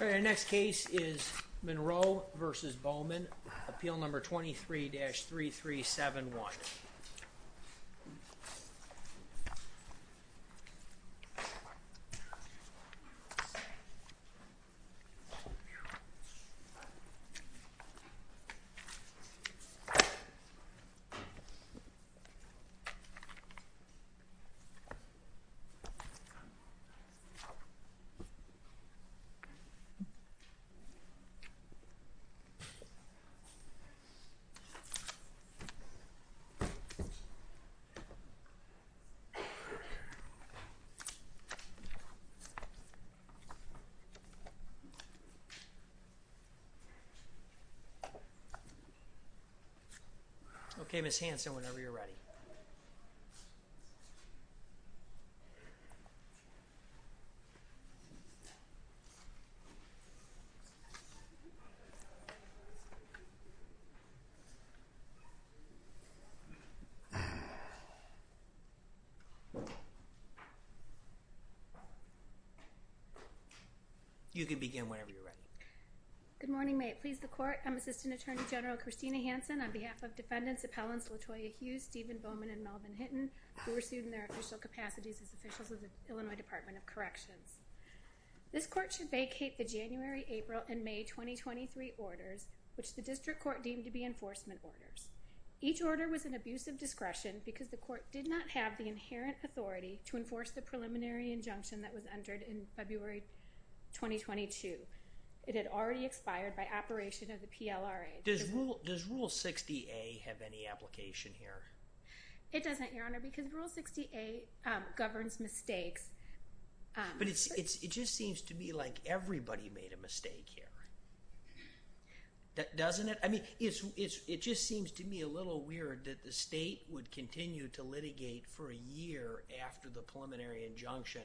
Our next case is Monroe v. Bowman, appeal number 23-3371. Okay, Ms. Hanson, whenever you're ready. Good morning, may it please the court, I'm Assistant Attorney General Christina Hanson on behalf of defendants appellants LaToya Hughes, Steven Bowman, and Melvin Hinton who were sued in their official capacities as officials of the Illinois Department of Corrections. This court should vacate the January, April, and May 2023 orders which the district court deemed to be enforcement orders. Each order was an abuse of discretion because the court did not have the inherent authority to enforce the preliminary injunction that was entered in February 2022. It had already expired by operation of the PLRA. Does Rule 60A have any application here? It doesn't, Your Honor, because Rule 60A governs mistakes. But it just seems to me like everybody made a mistake here. Doesn't it? I mean, it just seems to me a little weird that the state would continue to litigate for a year after the preliminary injunction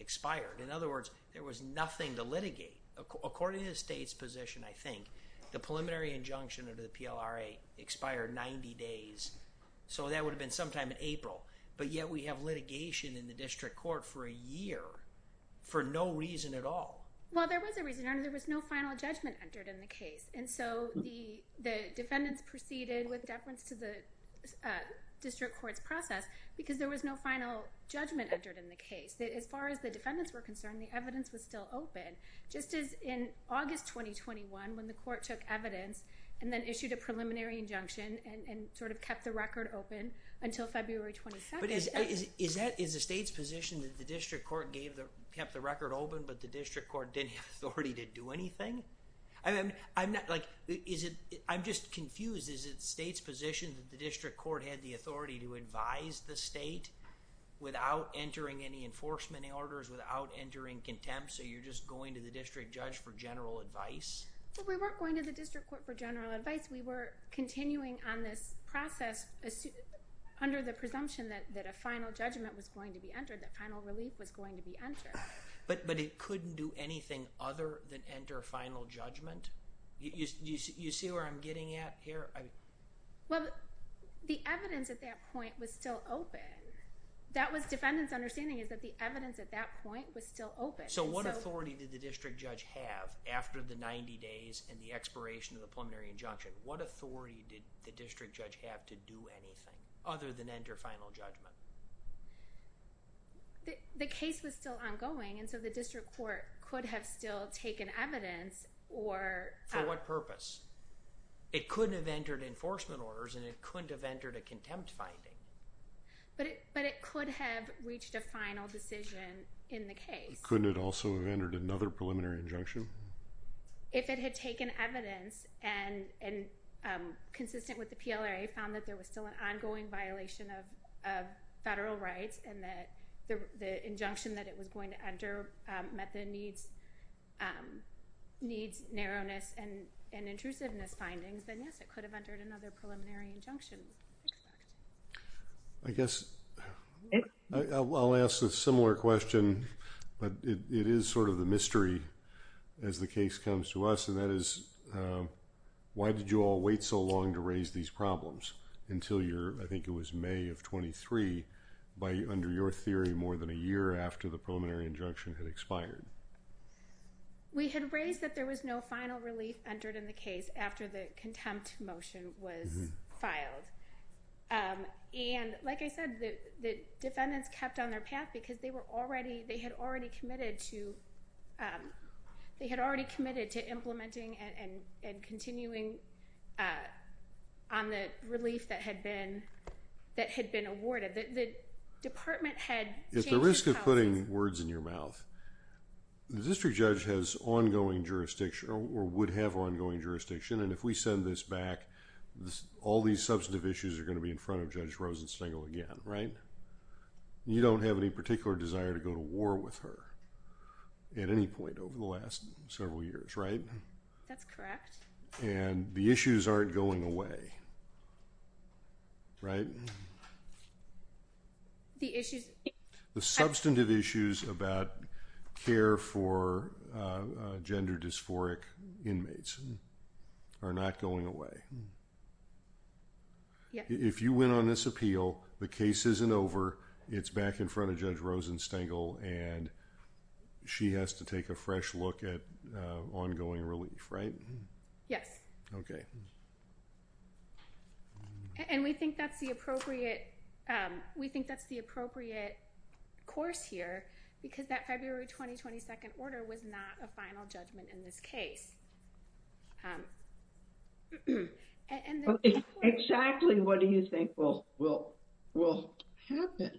expired. In other words, there was nothing to litigate according to the state's position, I think. The preliminary injunction under the PLRA expired 90 days, so that would have been sometime in April. But yet we have litigation in the district court for a year for no reason at all. Well, there was a reason, Your Honor. There was no final judgment entered in the case. And so the defendants proceeded with deference to the district court's process because there was no final judgment entered in the case. As far as the defendants were concerned, the evidence was still open. Just as in August 2021, when the court took evidence and then issued a preliminary injunction and sort of kept the record open until February 22nd. But is the state's position that the district court kept the record open, but the district court didn't have the authority to do anything? I'm just confused. Is it the state's position that the district court had the authority to advise the state without entering any enforcement orders, without entering contempt, so you're just going to the district judge for general advice? Well, we weren't going to the district court for general advice. We were continuing on this process under the presumption that a final judgment was going to be entered, that final relief was going to be entered. But it couldn't do anything other than enter a final judgment? You see where I'm getting at here? Well, the evidence at that point was still open. That was defendant's understanding is that the evidence at that point was still open. So what authority did the district judge have after the 90 days and the expiration of the preliminary injunction? What authority did the district judge have to do anything other than enter final judgment? The case was still ongoing, and so the district court could have still taken evidence or... For what purpose? It couldn't have entered enforcement orders and it couldn't have entered a contempt finding. But it could have reached a final decision in the case. Couldn't it also have entered another preliminary injunction? If it had taken evidence and consistent with the PLRA found that there was still an ongoing violation of federal rights and that the injunction that it was going to enter met the needs, narrowness, and intrusiveness findings, then yes, it could have entered another preliminary injunction. I guess I'll ask a similar question, but it is sort of the mystery as the case comes to us and that is, why did you all wait so long to raise these problems until your, I think it was May of 23, under your theory, more than a year after the preliminary injunction had expired? We had raised that there was no final relief entered in the case after the contempt motion was filed. And like I said, the defendants kept on their path because they had already committed to implementing and continuing on the relief that had been awarded. The department had changed its policy. At the risk of putting words in your mouth, the district judge has ongoing jurisdiction or would have ongoing jurisdiction, and if we send this back, all these substantive issues are going to be in front of Judge Rosenstengel again, right? You don't have any particular desire to go to war with her at any point over the last several years, right? That's correct. And the issues aren't going away, right? The issues... The substantive issues about care for gender dysphoric inmates are not going away. If you win on this appeal, the case isn't over. It's back in front of Judge Rosenstengel and she has to take a fresh look at ongoing relief, right? Yes. Okay. And we think that's the appropriate, we think that's the appropriate course here because that February 20, 22nd order was not a final judgment in this case. And then... Exactly what do you think will, will, will happen?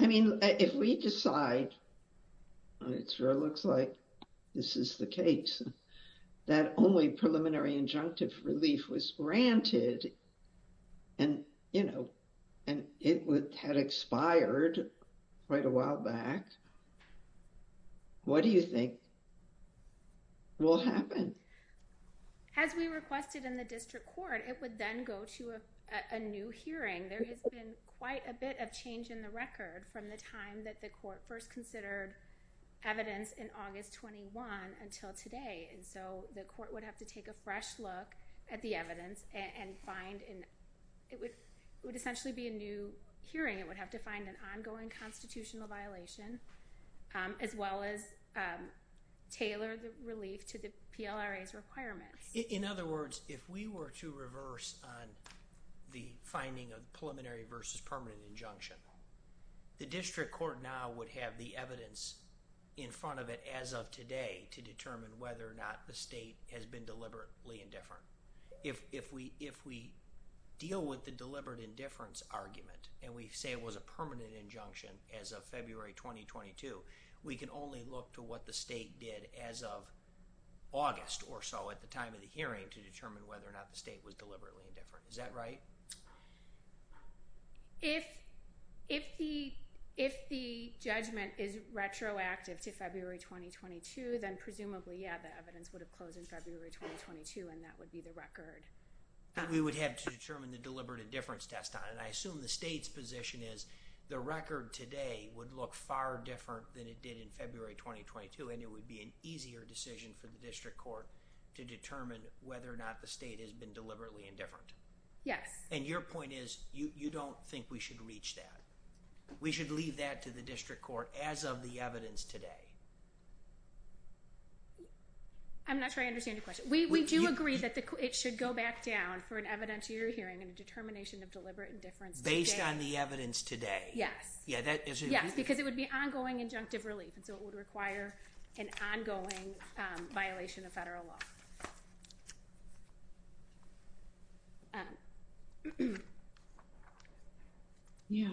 I mean, if we decide, and it sure looks like this is the case, that only preliminary injunctive relief was granted and, you know, and it had expired quite a while back, what do you think will happen? As we requested in the district court, it would then go to a new hearing. There has been quite a bit of change in the record from the time that the court first considered evidence in August 21 until today. And so the court would have to take a fresh look at the evidence and find, it would essentially be a new hearing. It would have to find an ongoing constitutional violation as well as tailor the relief to the PLRA's requirements. In other words, if we were to reverse on the finding of preliminary versus permanent injunction, the district court now would have the evidence in front of it as of today to determine whether or not the state has been deliberately indifferent. If we, if we deal with the deliberate indifference argument and we say it was a permanent injunction as of February 2022, we can only look to what the state did as of August or so at the time of the hearing to determine whether or not the state was deliberately indifferent. Is that right? If, if the, if the judgment is retroactive to February 2022, then presumably, yeah, the evidence would have closed in February 2022 and that would be the record. We would have to determine the deliberate indifference test on it. I assume the state's position is the record today would look far different than it did in February 2022 and it would be an easier decision for the district court to determine whether or not the state has been deliberately indifferent. Yes. And your point is you, you don't think we should reach that. We should leave that to the district court as of the evidence today. I'm not sure I understand your question. We do agree that it should go back down for an evidentiary hearing and a determination of deliberate indifference. Based on the evidence today. Yes. Yeah. That is. Yes. Because it would be ongoing injunctive relief. And so it would require an ongoing violation of federal law. Yeah.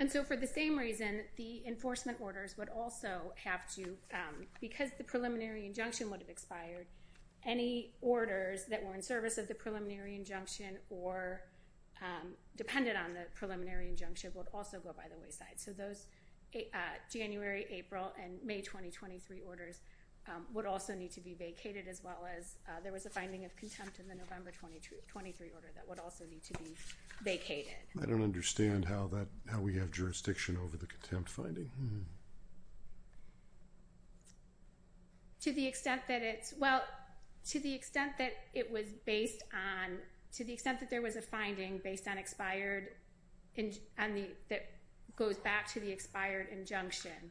And so for the same reason, the enforcement orders would also have to, because the preliminary injunction would have expired any orders that were in service of the preliminary injunction or depended on the preliminary injunction would also go by the wayside. So those January, April, and May, 2023 orders would also need to be vacated as well as there was a finding of contempt in the November, 2023 order that would also need to be vacated. I don't understand how that, how we have jurisdiction over the contempt finding. To the extent that it's, well, to the extent that it was based on, to the extent that there was a finding based on expired and on the, that goes back to the expired injunction,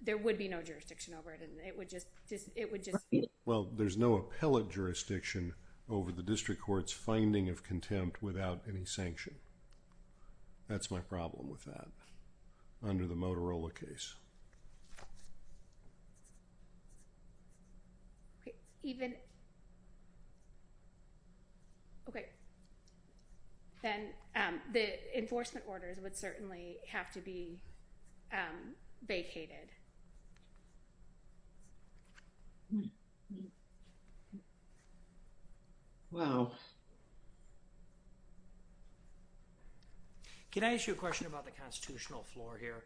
there would be no jurisdiction over it and it would just, it would just, well, there's no appellate jurisdiction over the district court's finding of contempt without any sanction. That's my problem with that under the Motorola case. Even, okay, then the enforcement orders would certainly have to be vacated. Wow. Can I ask you a question about the constitutional floor here?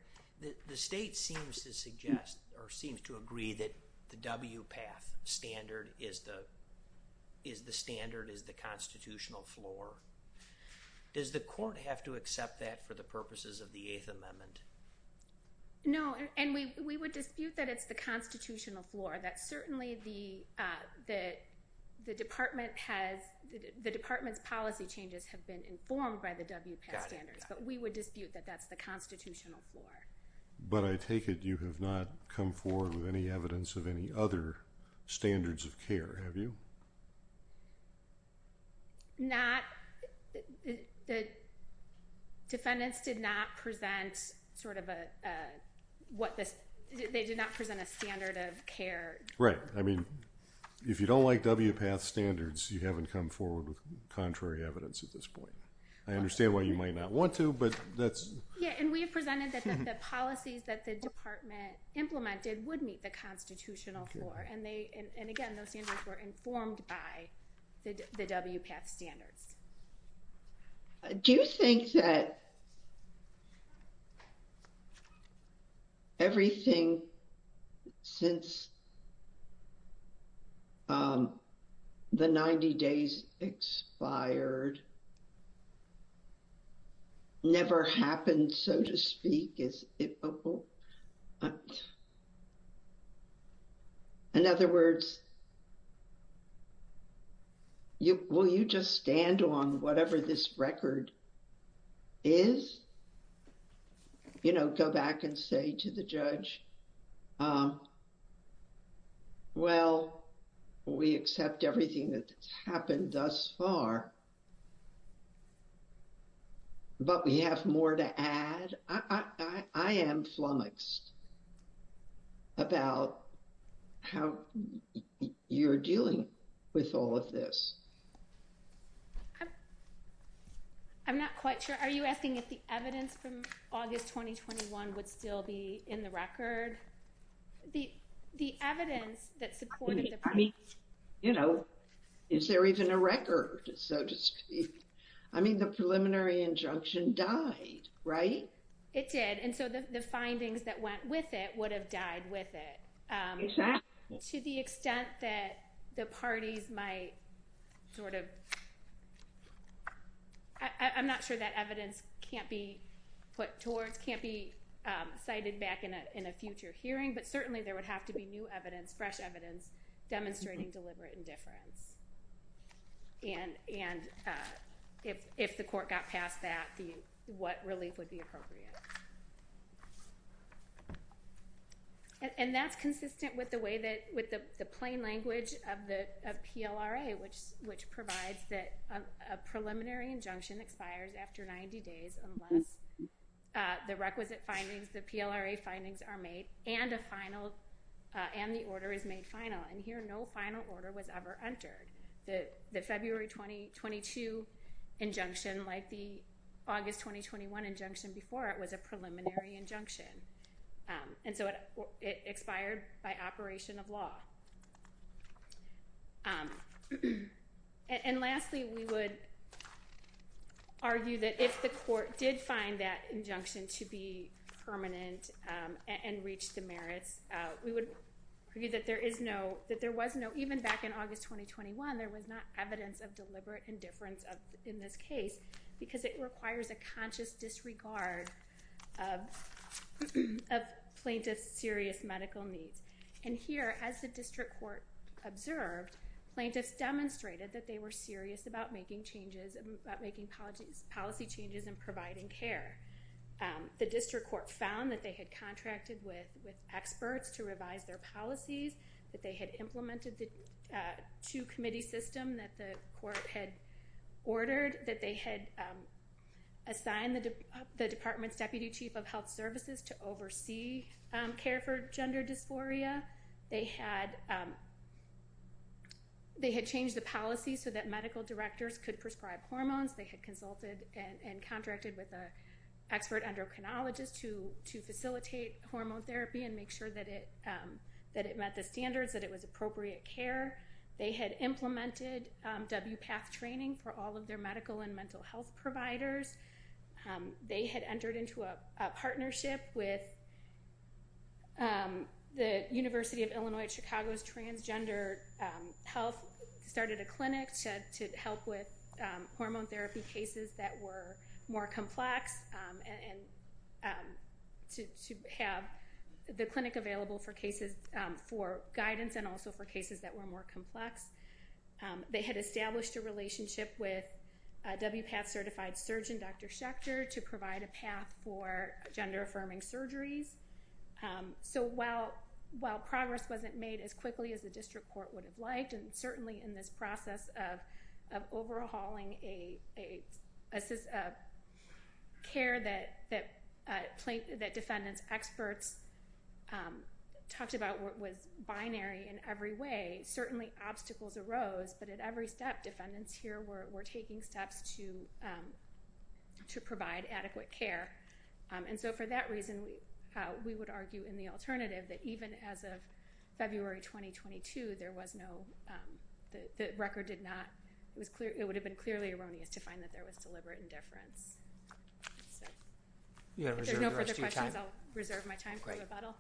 The state seems to suggest or seems to agree that the WPATH standard is the, is the standard, is the constitutional floor. Does the court have to accept that for the purposes of the Eighth Amendment? No, and we would dispute that it's the constitutional floor, that certainly the, that the department has, the department's policy changes have been informed by the WPATH standards, but we would dispute that that's the constitutional floor. But I take it you have not come forward with any evidence of any other standards of care, have you? Not, the defendants did not present sort of a, what this, they did not present a standard of care. Right. I mean, if you don't like WPATH standards, you haven't come forward with contrary evidence at this point. I understand why you might not want to, but that's... Yeah, and we have presented that the policies that the department implemented would meet the constitutional floor, and they, and again, those standards were informed by the WPATH standards. Do you think that everything since the 90 days expired never happened, so to speak, is it... In other words, you, will you just stand on whatever this record is? You know, go back and say to the judge, um, well, we accept everything that's happened thus far, but we have more to add. I am flummoxed about how you're dealing with all of this. I'm not quite sure. Are you asking if the evidence from August 2021 would still be in the record? The evidence that supported the... I mean, you know, is there even a record, so to speak? I mean, the preliminary injunction died, right? It did, and so the findings that went with it would have died with it. Exactly. To the extent that the parties might sort of... I'm not sure that evidence can't be put towards... can't be cited back in a future hearing, but certainly there would have to be new evidence, fresh evidence, demonstrating deliberate indifference, and if the court got past that, what relief would be appropriate? And that's consistent with the way that... with the plain language of PLRA, which provides that a preliminary injunction expires after 90 days unless the requisite findings, the PLRA findings are made and a final... and the order is made final, and here no final order was ever entered. The February 2022 injunction, like the August 2021 injunction before it, was a preliminary injunction, and so it expired by operation of law. And lastly, we would argue that if the court did find that injunction to be permanent and reach the merits, we would argue that there is no... that there was no... even back in August 2021, there was not evidence of deliberate indifference in this case because it requires a conscious disregard of plaintiff's serious medical needs. And here, as the district court observed, plaintiffs demonstrated that they were serious about making changes... about making policy changes and providing care. The district court found that they had contracted with experts to revise their policies, that they had implemented the two-committee system that the court had ordered, that they had assigned the department's deputy chief of health services to oversee care for gender dysphoria. They had... they had changed the policy so that medical directors could prescribe hormones. They had consulted and contracted with an expert endocrinologist to facilitate hormone therapy and make sure that it met the standards, that it was appropriate care. They had implemented WPATH training for all of their medical and mental health providers. They had entered into a partnership with the University of Illinois at Chicago's Transgender Health, started a clinic to help with hormone therapy cases that were more complex and to have the clinic available for cases... for guidance and also for cases that were more complex. They had established a relationship with WPATH-certified surgeon, Dr. Schechter, to provide a path for gender-affirming surgeries. So while progress wasn't made as quickly as the district court would have liked, and certainly in this process of overhauling a system of care that plaintiff... that defendant's experts talked about what was binary in every way, certainly obstacles arose, but at every step defendants here were taking steps to provide adequate care. And so for that reason, we would argue in the alternative that even as of February 2022, there was no... the record did not... it would have been clearly erroneous to find that there was deliberate indifference. If there's no further questions, I'll reserve my time for rebuttal.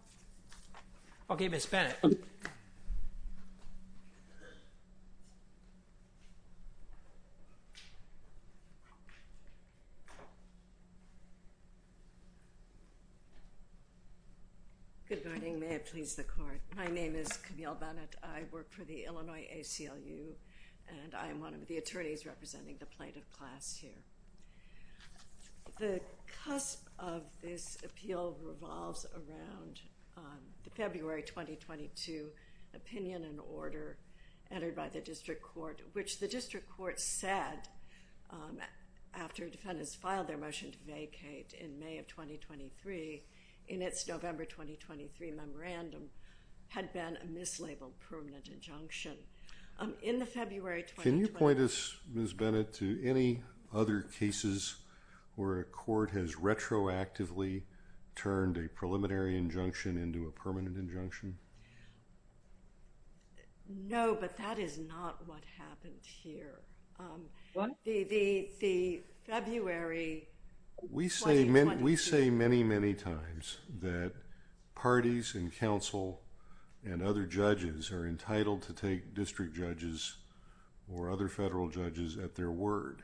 Okay. Ms. Bennett. Good morning. May it please the Court. My name is Camille Bennett. I work for the Illinois ACLU and I'm one of the attorneys representing the plaintiff class here. The cusp of this appeal revolves around the February 2022 opinion and order entered by the district court, which the district court said after defendants filed their motion to vacate in May of 2023 in its November 2023 memorandum had been a mislabeled permanent injunction. In the February... Are there other cases where a court has retroactively turned a preliminary injunction into a permanent injunction? No, but that is not what happened here. The February... We say many, many times that parties and counsel and other judges are entitled to take district judges or other federal judges at their word.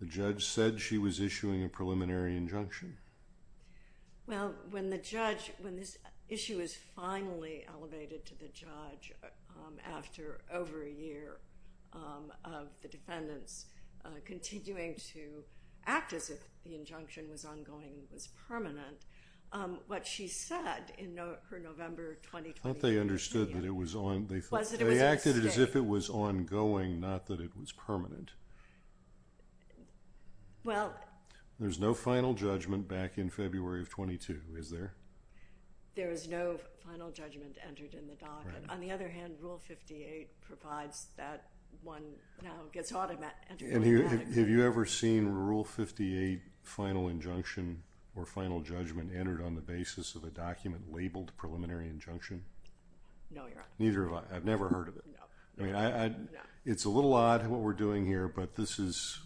The judge said she was issuing a preliminary injunction. Well, when the judge... when this issue is finally elevated to the judge after over a year of the defendants continuing to act as if the injunction was ongoing, was permanent, what she said in her November... I thought they understood that it was... Was that it was a mistake? They acted as if it was ongoing, not that it was permanent. Well... There is no final judgment back in February of 22, is there? There is no final judgment entered in the document. On the other hand, Rule 58 provides that one now gets automatic... Have you ever seen Rule 58 final injunction or final judgment entered on the basis of a document labeled preliminary injunction? No, Your Honor. Neither have I. I've never heard of it. No. It's a little odd what we're doing here, but this is...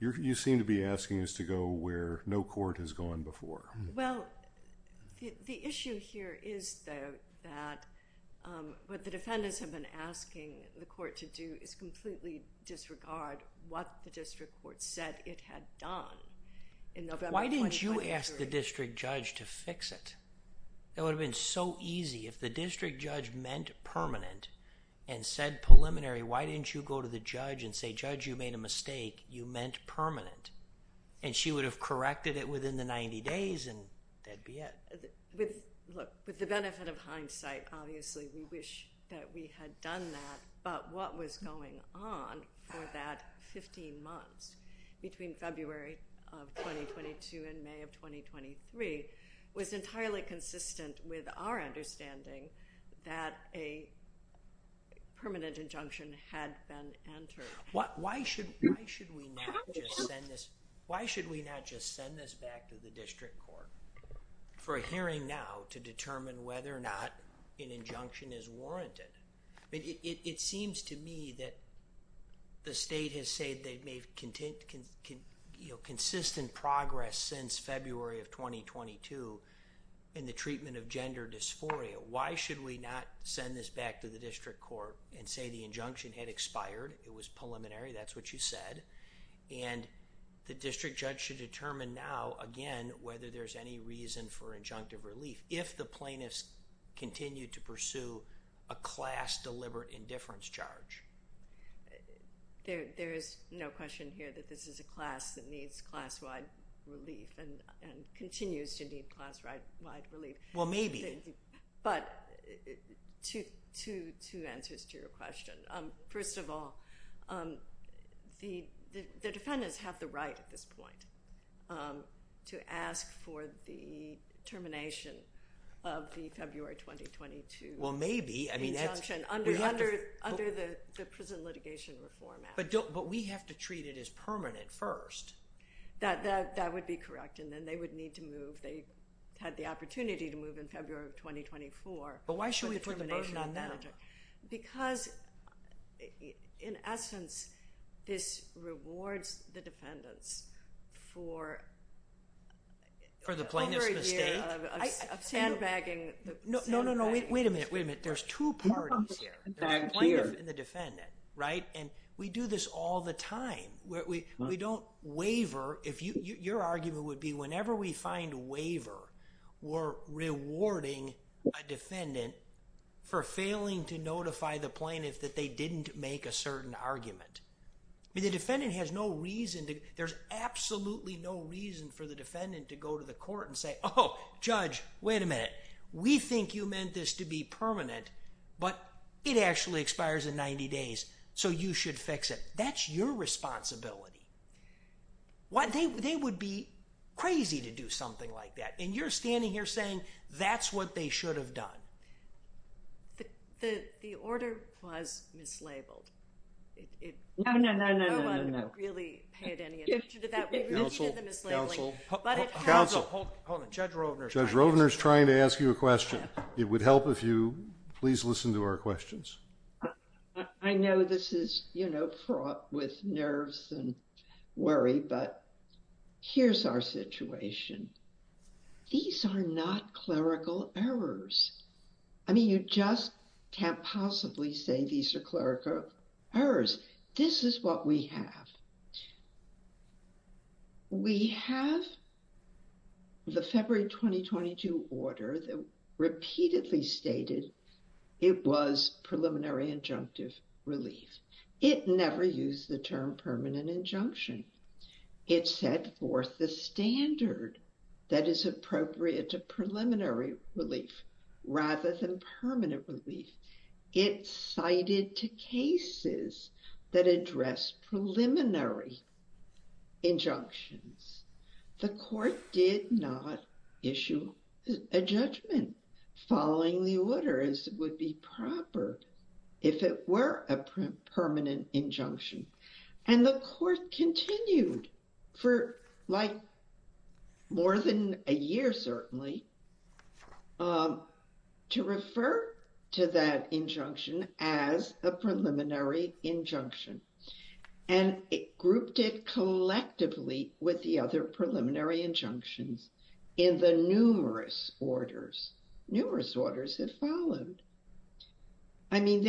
you seem to be asking us to go where no court has gone before. Well, the issue here is that what the defendants have been asking the court to do is completely disregard what the district court said it had done in November... Why didn't you ask the district judge to fix it? That would have been so easy. If the district judge meant permanent and said preliminary, why didn't you go to the judge and say, Judge, you made a mistake, you meant permanent, and she would have corrected it within the 90 days and that would be it. Look, with the benefit of hindsight, obviously, we wish that we had done that, but what was going on for that fifteen months between February of 2022 and May of 2023 was entirely consistent with our understanding that a permanent injunction had been entered. Why should we not just send this back to the district court for a hearing now to determine whether or not an injunction is warranted? It seems to me that the state has said they've made consistent progress since February of 2022 in the treatment of gender dysphoria. Why should we not send this back to the district court and say the injunction had expired, it was preliminary, that's what you said, and the district judge should determine now again whether there's any reason for injunctive relief. If the plaintiffs continue to pursue a class deliberate indifference charge. There is no question here that this is a class that needs class-wide relief and continues to need class-wide relief. Well, maybe. But two answers to your question. First of all, the defendants have the right at this point to ask for the termination of the February 2022 injunction under the Prison Litigation Reform Act. But we have to treat it as permanent first. That would be correct, and then they would need to move. They had the opportunity to move in February of 2024. But why should we put the burden on them? Because, in essence, this rewards the defendants for over a year of sandbagging. No, no, no. Wait a minute. Wait a minute. There's two parties here. The plaintiff and the defendant, right? And we do this all the time. We don't waiver. Your argument would be whenever we find waiver, we're rewarding a defendant for failing to notify the plaintiff that they didn't make a certain argument. The defendant has no reason. There's absolutely no reason for the defendant to go to the court and say, oh, judge, wait a minute. We think you meant this to be permanent, but it actually expires in 90 days, so you should fix it. That's your responsibility. They would be crazy to do something like that, and you're standing here saying that's what they should have done. The order was mislabeled. No, no, no, no, no, no. No one really paid any attention to that. We really did the mislabeling. Counsel. Counsel. Hold on. Judge Rovner. Judge Rovner's trying to ask you a question. It would help if you please listen to our questions. I know this is, you know, fraught with nerves and worry, but here's our situation. These are not clerical errors. I mean, you just can't possibly say these are clerical errors. This is what we have. We have the February 2022 order that repeatedly stated it was preliminary injunctive relief. It never used the term permanent injunction. It set forth the standard that is appropriate to preliminary relief rather than permanent relief. It cited to cases that address preliminary injunctions. The court did not issue a judgment following the order as it would be proper if it were a permanent injunction, and the court continued for like more than a year, certainly, to refer to that injunction as a preliminary injunction, and it grouped it collectively with the other preliminary injunctions in the numerous orders. Numerous orders have followed. I mean,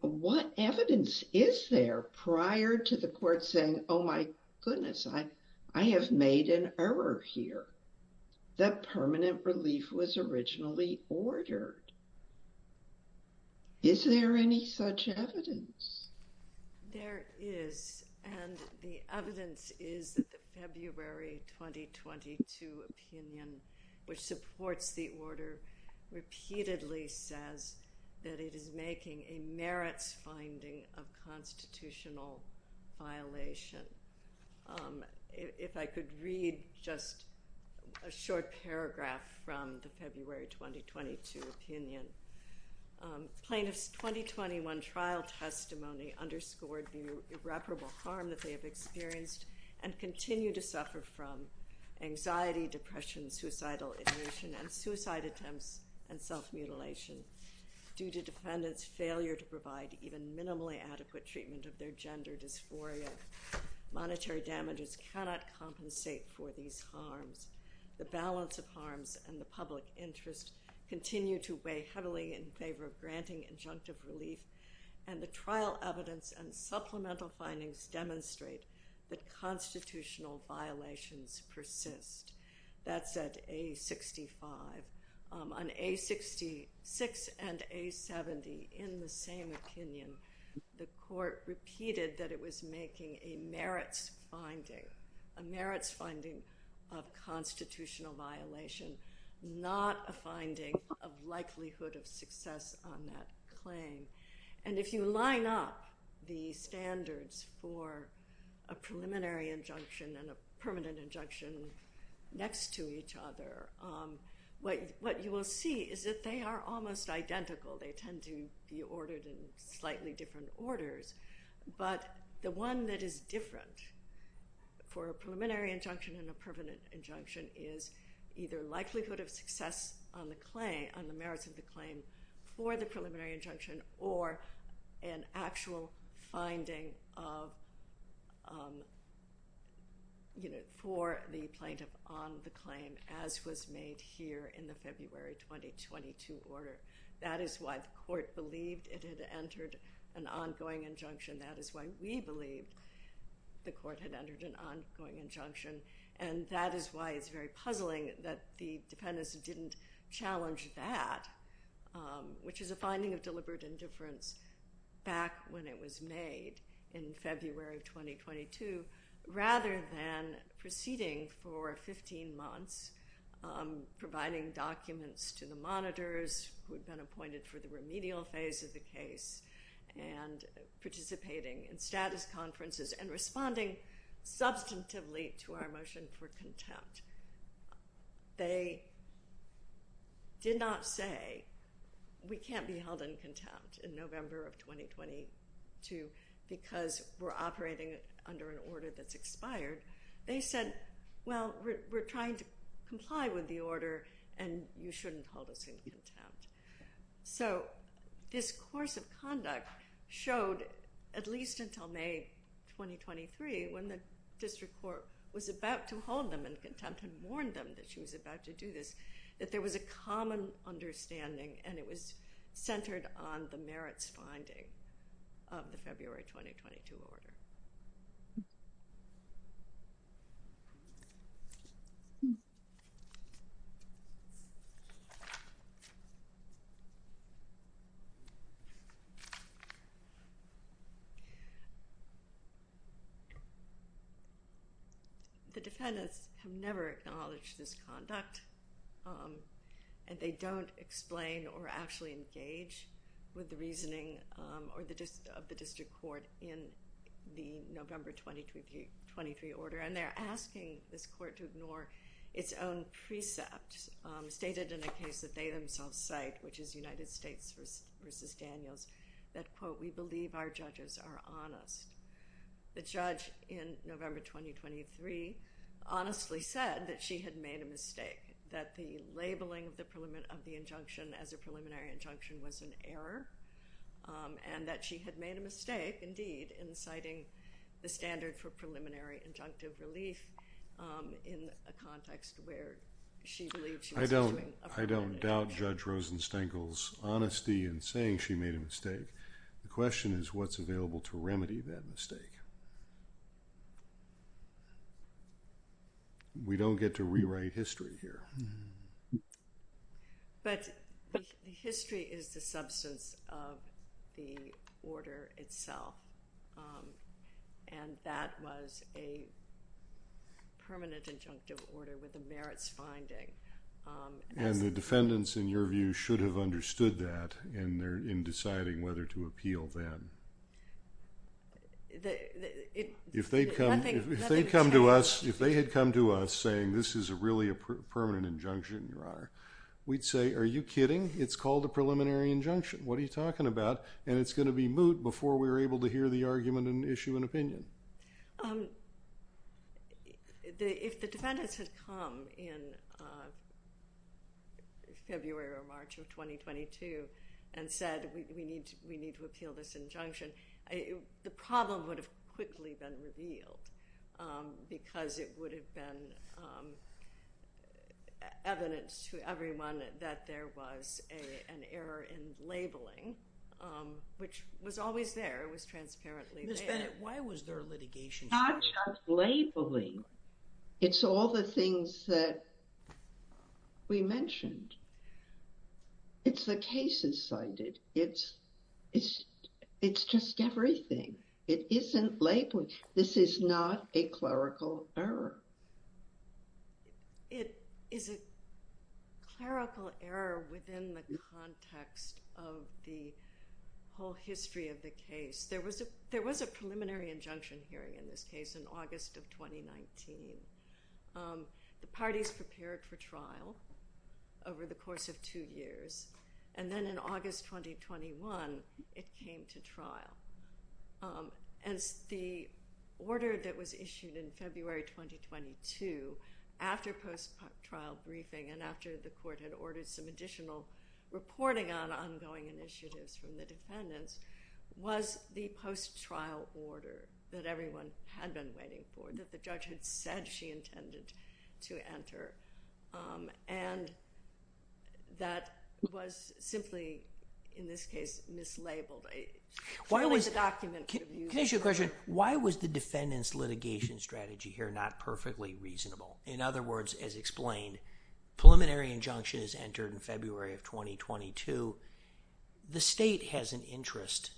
what evidence is there prior to the court saying, oh, my goodness, I have made an error here. That permanent relief was originally ordered. Is there any such evidence? There is, and the evidence is that the February 2022 opinion, which supports the order, repeatedly says that it is making a merits finding of constitutional violation. If I could read just a short paragraph from the February 2022 opinion. Plaintiffs' 2021 trial testimony underscored the irreparable harm that they have experienced and continue to suffer from anxiety, depression, suicidal ignition, and suicide attempts and self-mutilation due to defendants' failure to provide even minimally adequate treatment of their gender dysphoria. Monetary damages cannot compensate for these harms. The balance of harms and the public interest continue to weigh heavily in favor of granting injunctive relief, and the trial evidence and supplemental findings demonstrate that constitutional violations persist. That's at A65. On A66 and A70, in the same opinion, the court repeated that it was making a merits finding, a merits finding of constitutional violation, not a finding of likelihood of success on that claim. And if you line up the standards for a preliminary injunction and a permanent injunction next to each other, what you will see is that they are almost identical. They tend to be ordered in slightly different orders. But the one that is different for a preliminary injunction and a permanent injunction is either likelihood of success on the merits of the claim for the preliminary injunction or an actual finding for the plaintiff on the claim, as was made here in the February 2022 order. That is why the court believed it had entered an ongoing injunction. That is why we believed the court had entered an ongoing injunction. And that is why it's very puzzling that the defendants didn't challenge that, which is the finding of deliberate indifference back when it was made in February 2022, rather than proceeding for 15 months, providing documents to the monitors who had been appointed for the remedial phase of the case and participating in status conferences and responding substantively to our motion for contempt. They did not say, we can't be held in contempt in November of 2022 because we're operating under an order that's expired. They said, well, we're trying to comply with the order, and you shouldn't hold us in contempt. So this course of conduct showed, at least until May 2023, when the district court was about to hold them in contempt and warn them that she was about to do this, that there was a common understanding, and it was centered on the merits finding of the February 2022 order. The defendants have never acknowledged this conduct, and they don't explain or actually engage with the reasoning of the district court in the November 2023 order. And they're asking this court to ignore its own precept, stated in a case that they themselves cite, which is United States v. Daniels, that, quote, we believe our judges are honest. The judge in November 2023 honestly said that she had made a mistake, that the labeling of the injunction as a preliminary injunction was an error, and that she had made a mistake, indeed, in citing the standard for preliminary injunctive relief in a context where she believed she was doing a preliminary injunction. I don't doubt Judge Rosenstenkel's honesty in saying she made a mistake. The question is what's available to remedy that mistake. We don't get to rewrite history here. But history is the substance of the order itself, and that was a permanent injunctive order with a merits finding. And the defendants, in your view, should have understood that in deciding whether to appeal then. If they had come to us saying this is really a permanent injunction, Your Honor, we'd say, are you kidding? It's called a preliminary injunction. What are you talking about? And it's going to be moot before we're able to hear the argument and issue an opinion. If the defendants had come in February or March of 2022 and said we need to appeal this injunction, the problem would have quickly been revealed because it would have been evidence to everyone that there was an error in labeling, which was always there. It was transparently there. Why was there litigation? Not just labeling. It's all the things that we mentioned. It's the cases cited. It's just everything. It isn't labeling. This is not a clerical error. It is a clerical error within the context of the whole history of the case. There was a preliminary injunction hearing in this case in August of 2019. The parties prepared for trial over the course of two years. And then in August 2021, it came to trial. And the order that was issued in February 2022 after post-trial briefing and after the post-trial order that everyone had been waiting for, that the judge had said she intended to enter, and that was simply, in this case, mislabeled. Can I ask you a question? Why was the defendant's litigation strategy here not perfectly reasonable? In other words, as explained, preliminary injunction is entered in February of 2022. The state has an interest.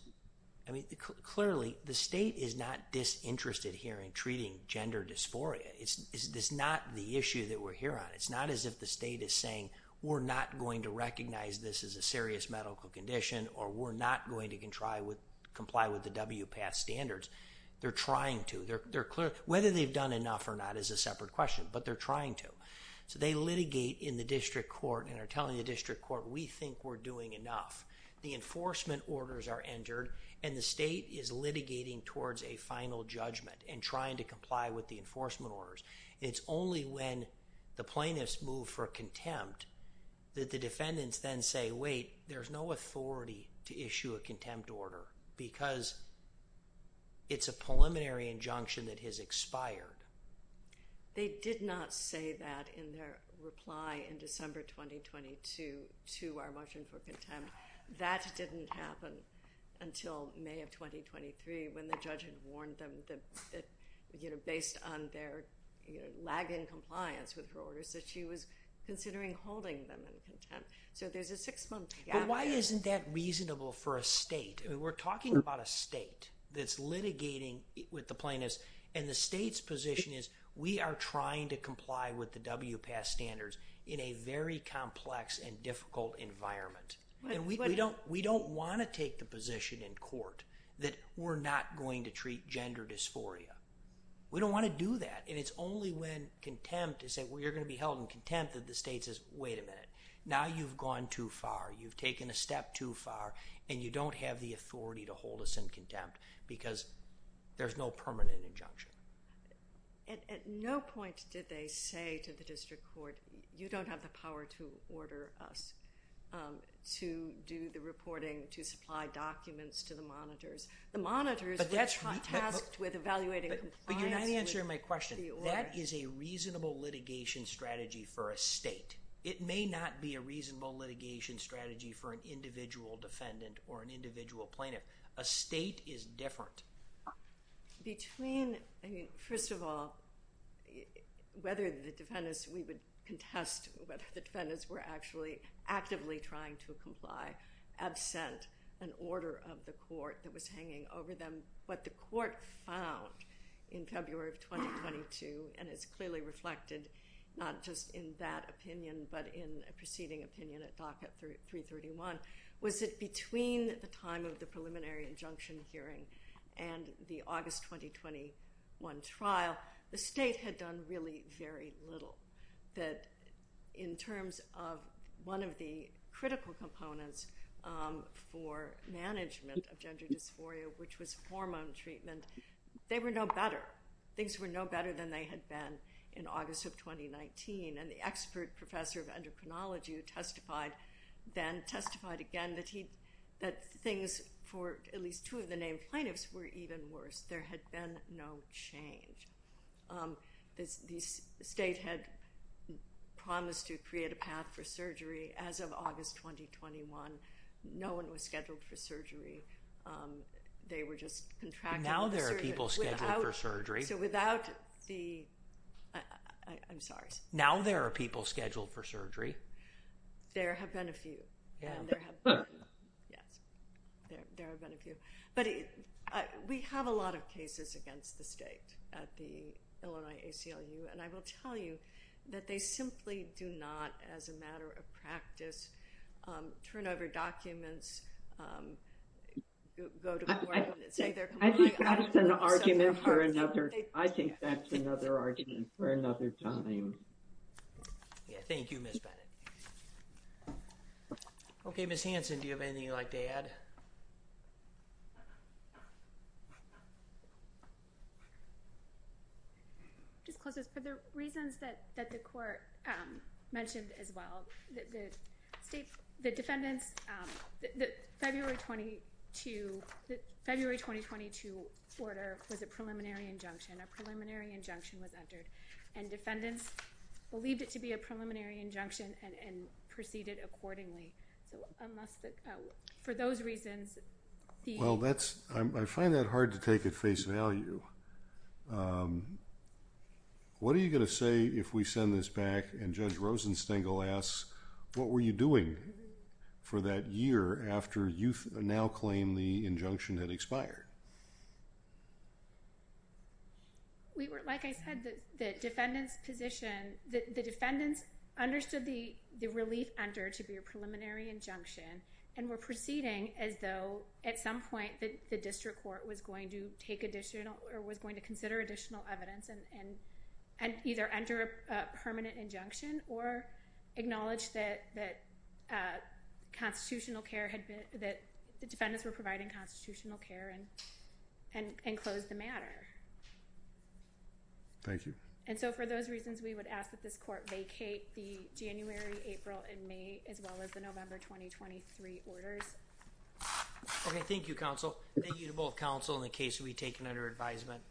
Clearly, the state is not disinterested here in treating gender dysphoria. It's not the issue that we're here on. It's not as if the state is saying we're not going to recognize this as a serious medical condition or we're not going to comply with the WPATH standards. They're trying to. Whether they've done enough or not is a separate question, but they're trying to. So they litigate in the district court and are telling the district court, we think we're doing enough. The enforcement orders are entered, and the state is litigating towards a final judgment and trying to comply with the enforcement orders. It's only when the plaintiffs move for contempt that the defendants then say, wait, there's no authority to issue a contempt order because it's a preliminary injunction that has expired. They did not say that in their reply in December 2022 to our motion for contempt. That didn't happen until May of 2023 when the judge had warned them that, based on their lagging compliance with the orders, that she was considering holding them in contempt. So there's a six-month gap. But why isn't that reasonable for a state? We're talking about a state that's litigating with the plaintiffs, and the state's position is we are trying to comply with the WPAS standards in a very complex and difficult environment. We don't want to take the position in court that we're not going to treat gender dysphoria. We don't want to do that. And it's only when contempt is said, well, you're going to be held in contempt, that the state says, wait a minute, now you've gone too far. You've taken a step too far, and you don't have the authority to hold us in contempt because there's no permanent injunction. At no point did they say to the district court, you don't have the power to order us to do the reporting, to supply documents to the monitors. The monitors were tasked with evaluating compliance with the order. But you're not answering my question. That is a reasonable litigation strategy for a state. It may not be a reasonable litigation strategy for an individual defendant or an individual plaintiff. A state is different. Between, I mean, first of all, whether the defendants, we would contest whether the defendants were actually actively trying to comply absent an order of the court that was hanging over them. What the court found in February of 2022, and it's clearly reflected not just in that opinion, but in a preceding opinion at DACA 331, was that between the time of the preliminary injunction hearing and the August 2021 trial, the state had done really very little. That in terms of one of the critical components for management of gender dysphoria, which was hormone treatment, they were no better. Things were no better than they had been in August of 2019. And the expert professor of endocrinology who testified then testified again that things for at least two of the named plaintiffs were even worse. There had been no change. The state had promised to create a path for surgery. As of August 2021, no one was scheduled for surgery. They were just contracted. Now there are people scheduled for surgery. So without the, I'm sorry. Now there are people scheduled for surgery. There have been a few. Yes, there have been a few. But we have a lot of cases against the state at the Illinois ACLU, and I will tell you that they simply do not, as a matter of practice, turn over documents. I think that's an argument for another. I think that's another argument for another time. Thank you, Ms. Bennett. Okay, Ms. Hanson, do you have anything you'd like to add? Just close this. For the reasons that the court mentioned as well, the state, the defendants, the February 22, the February 2022 order was a preliminary injunction. A preliminary injunction was entered, and defendants believed it to be a preliminary injunction and proceeded accordingly. For those reasons... Well, I find that hard to take at face value. What are you going to say if we send this back and Judge Rosenstengel asks, what were you doing for that year after you now claim the injunction had expired? Like I said, the defendant's position, the defendants understood the relief entered to be a preliminary injunction and were proceeding as though, at some point, the district court was going to take additional, or was going to consider additional evidence and either enter a permanent injunction or acknowledge that the defendants were providing constitutional care and close the matter. Thank you. And so, for those reasons, we would ask that this court vacate the January, April, and May, as well as the November 2023 orders. Okay, thank you, counsel. Thank you to both counsel and the case will be taken under advisement.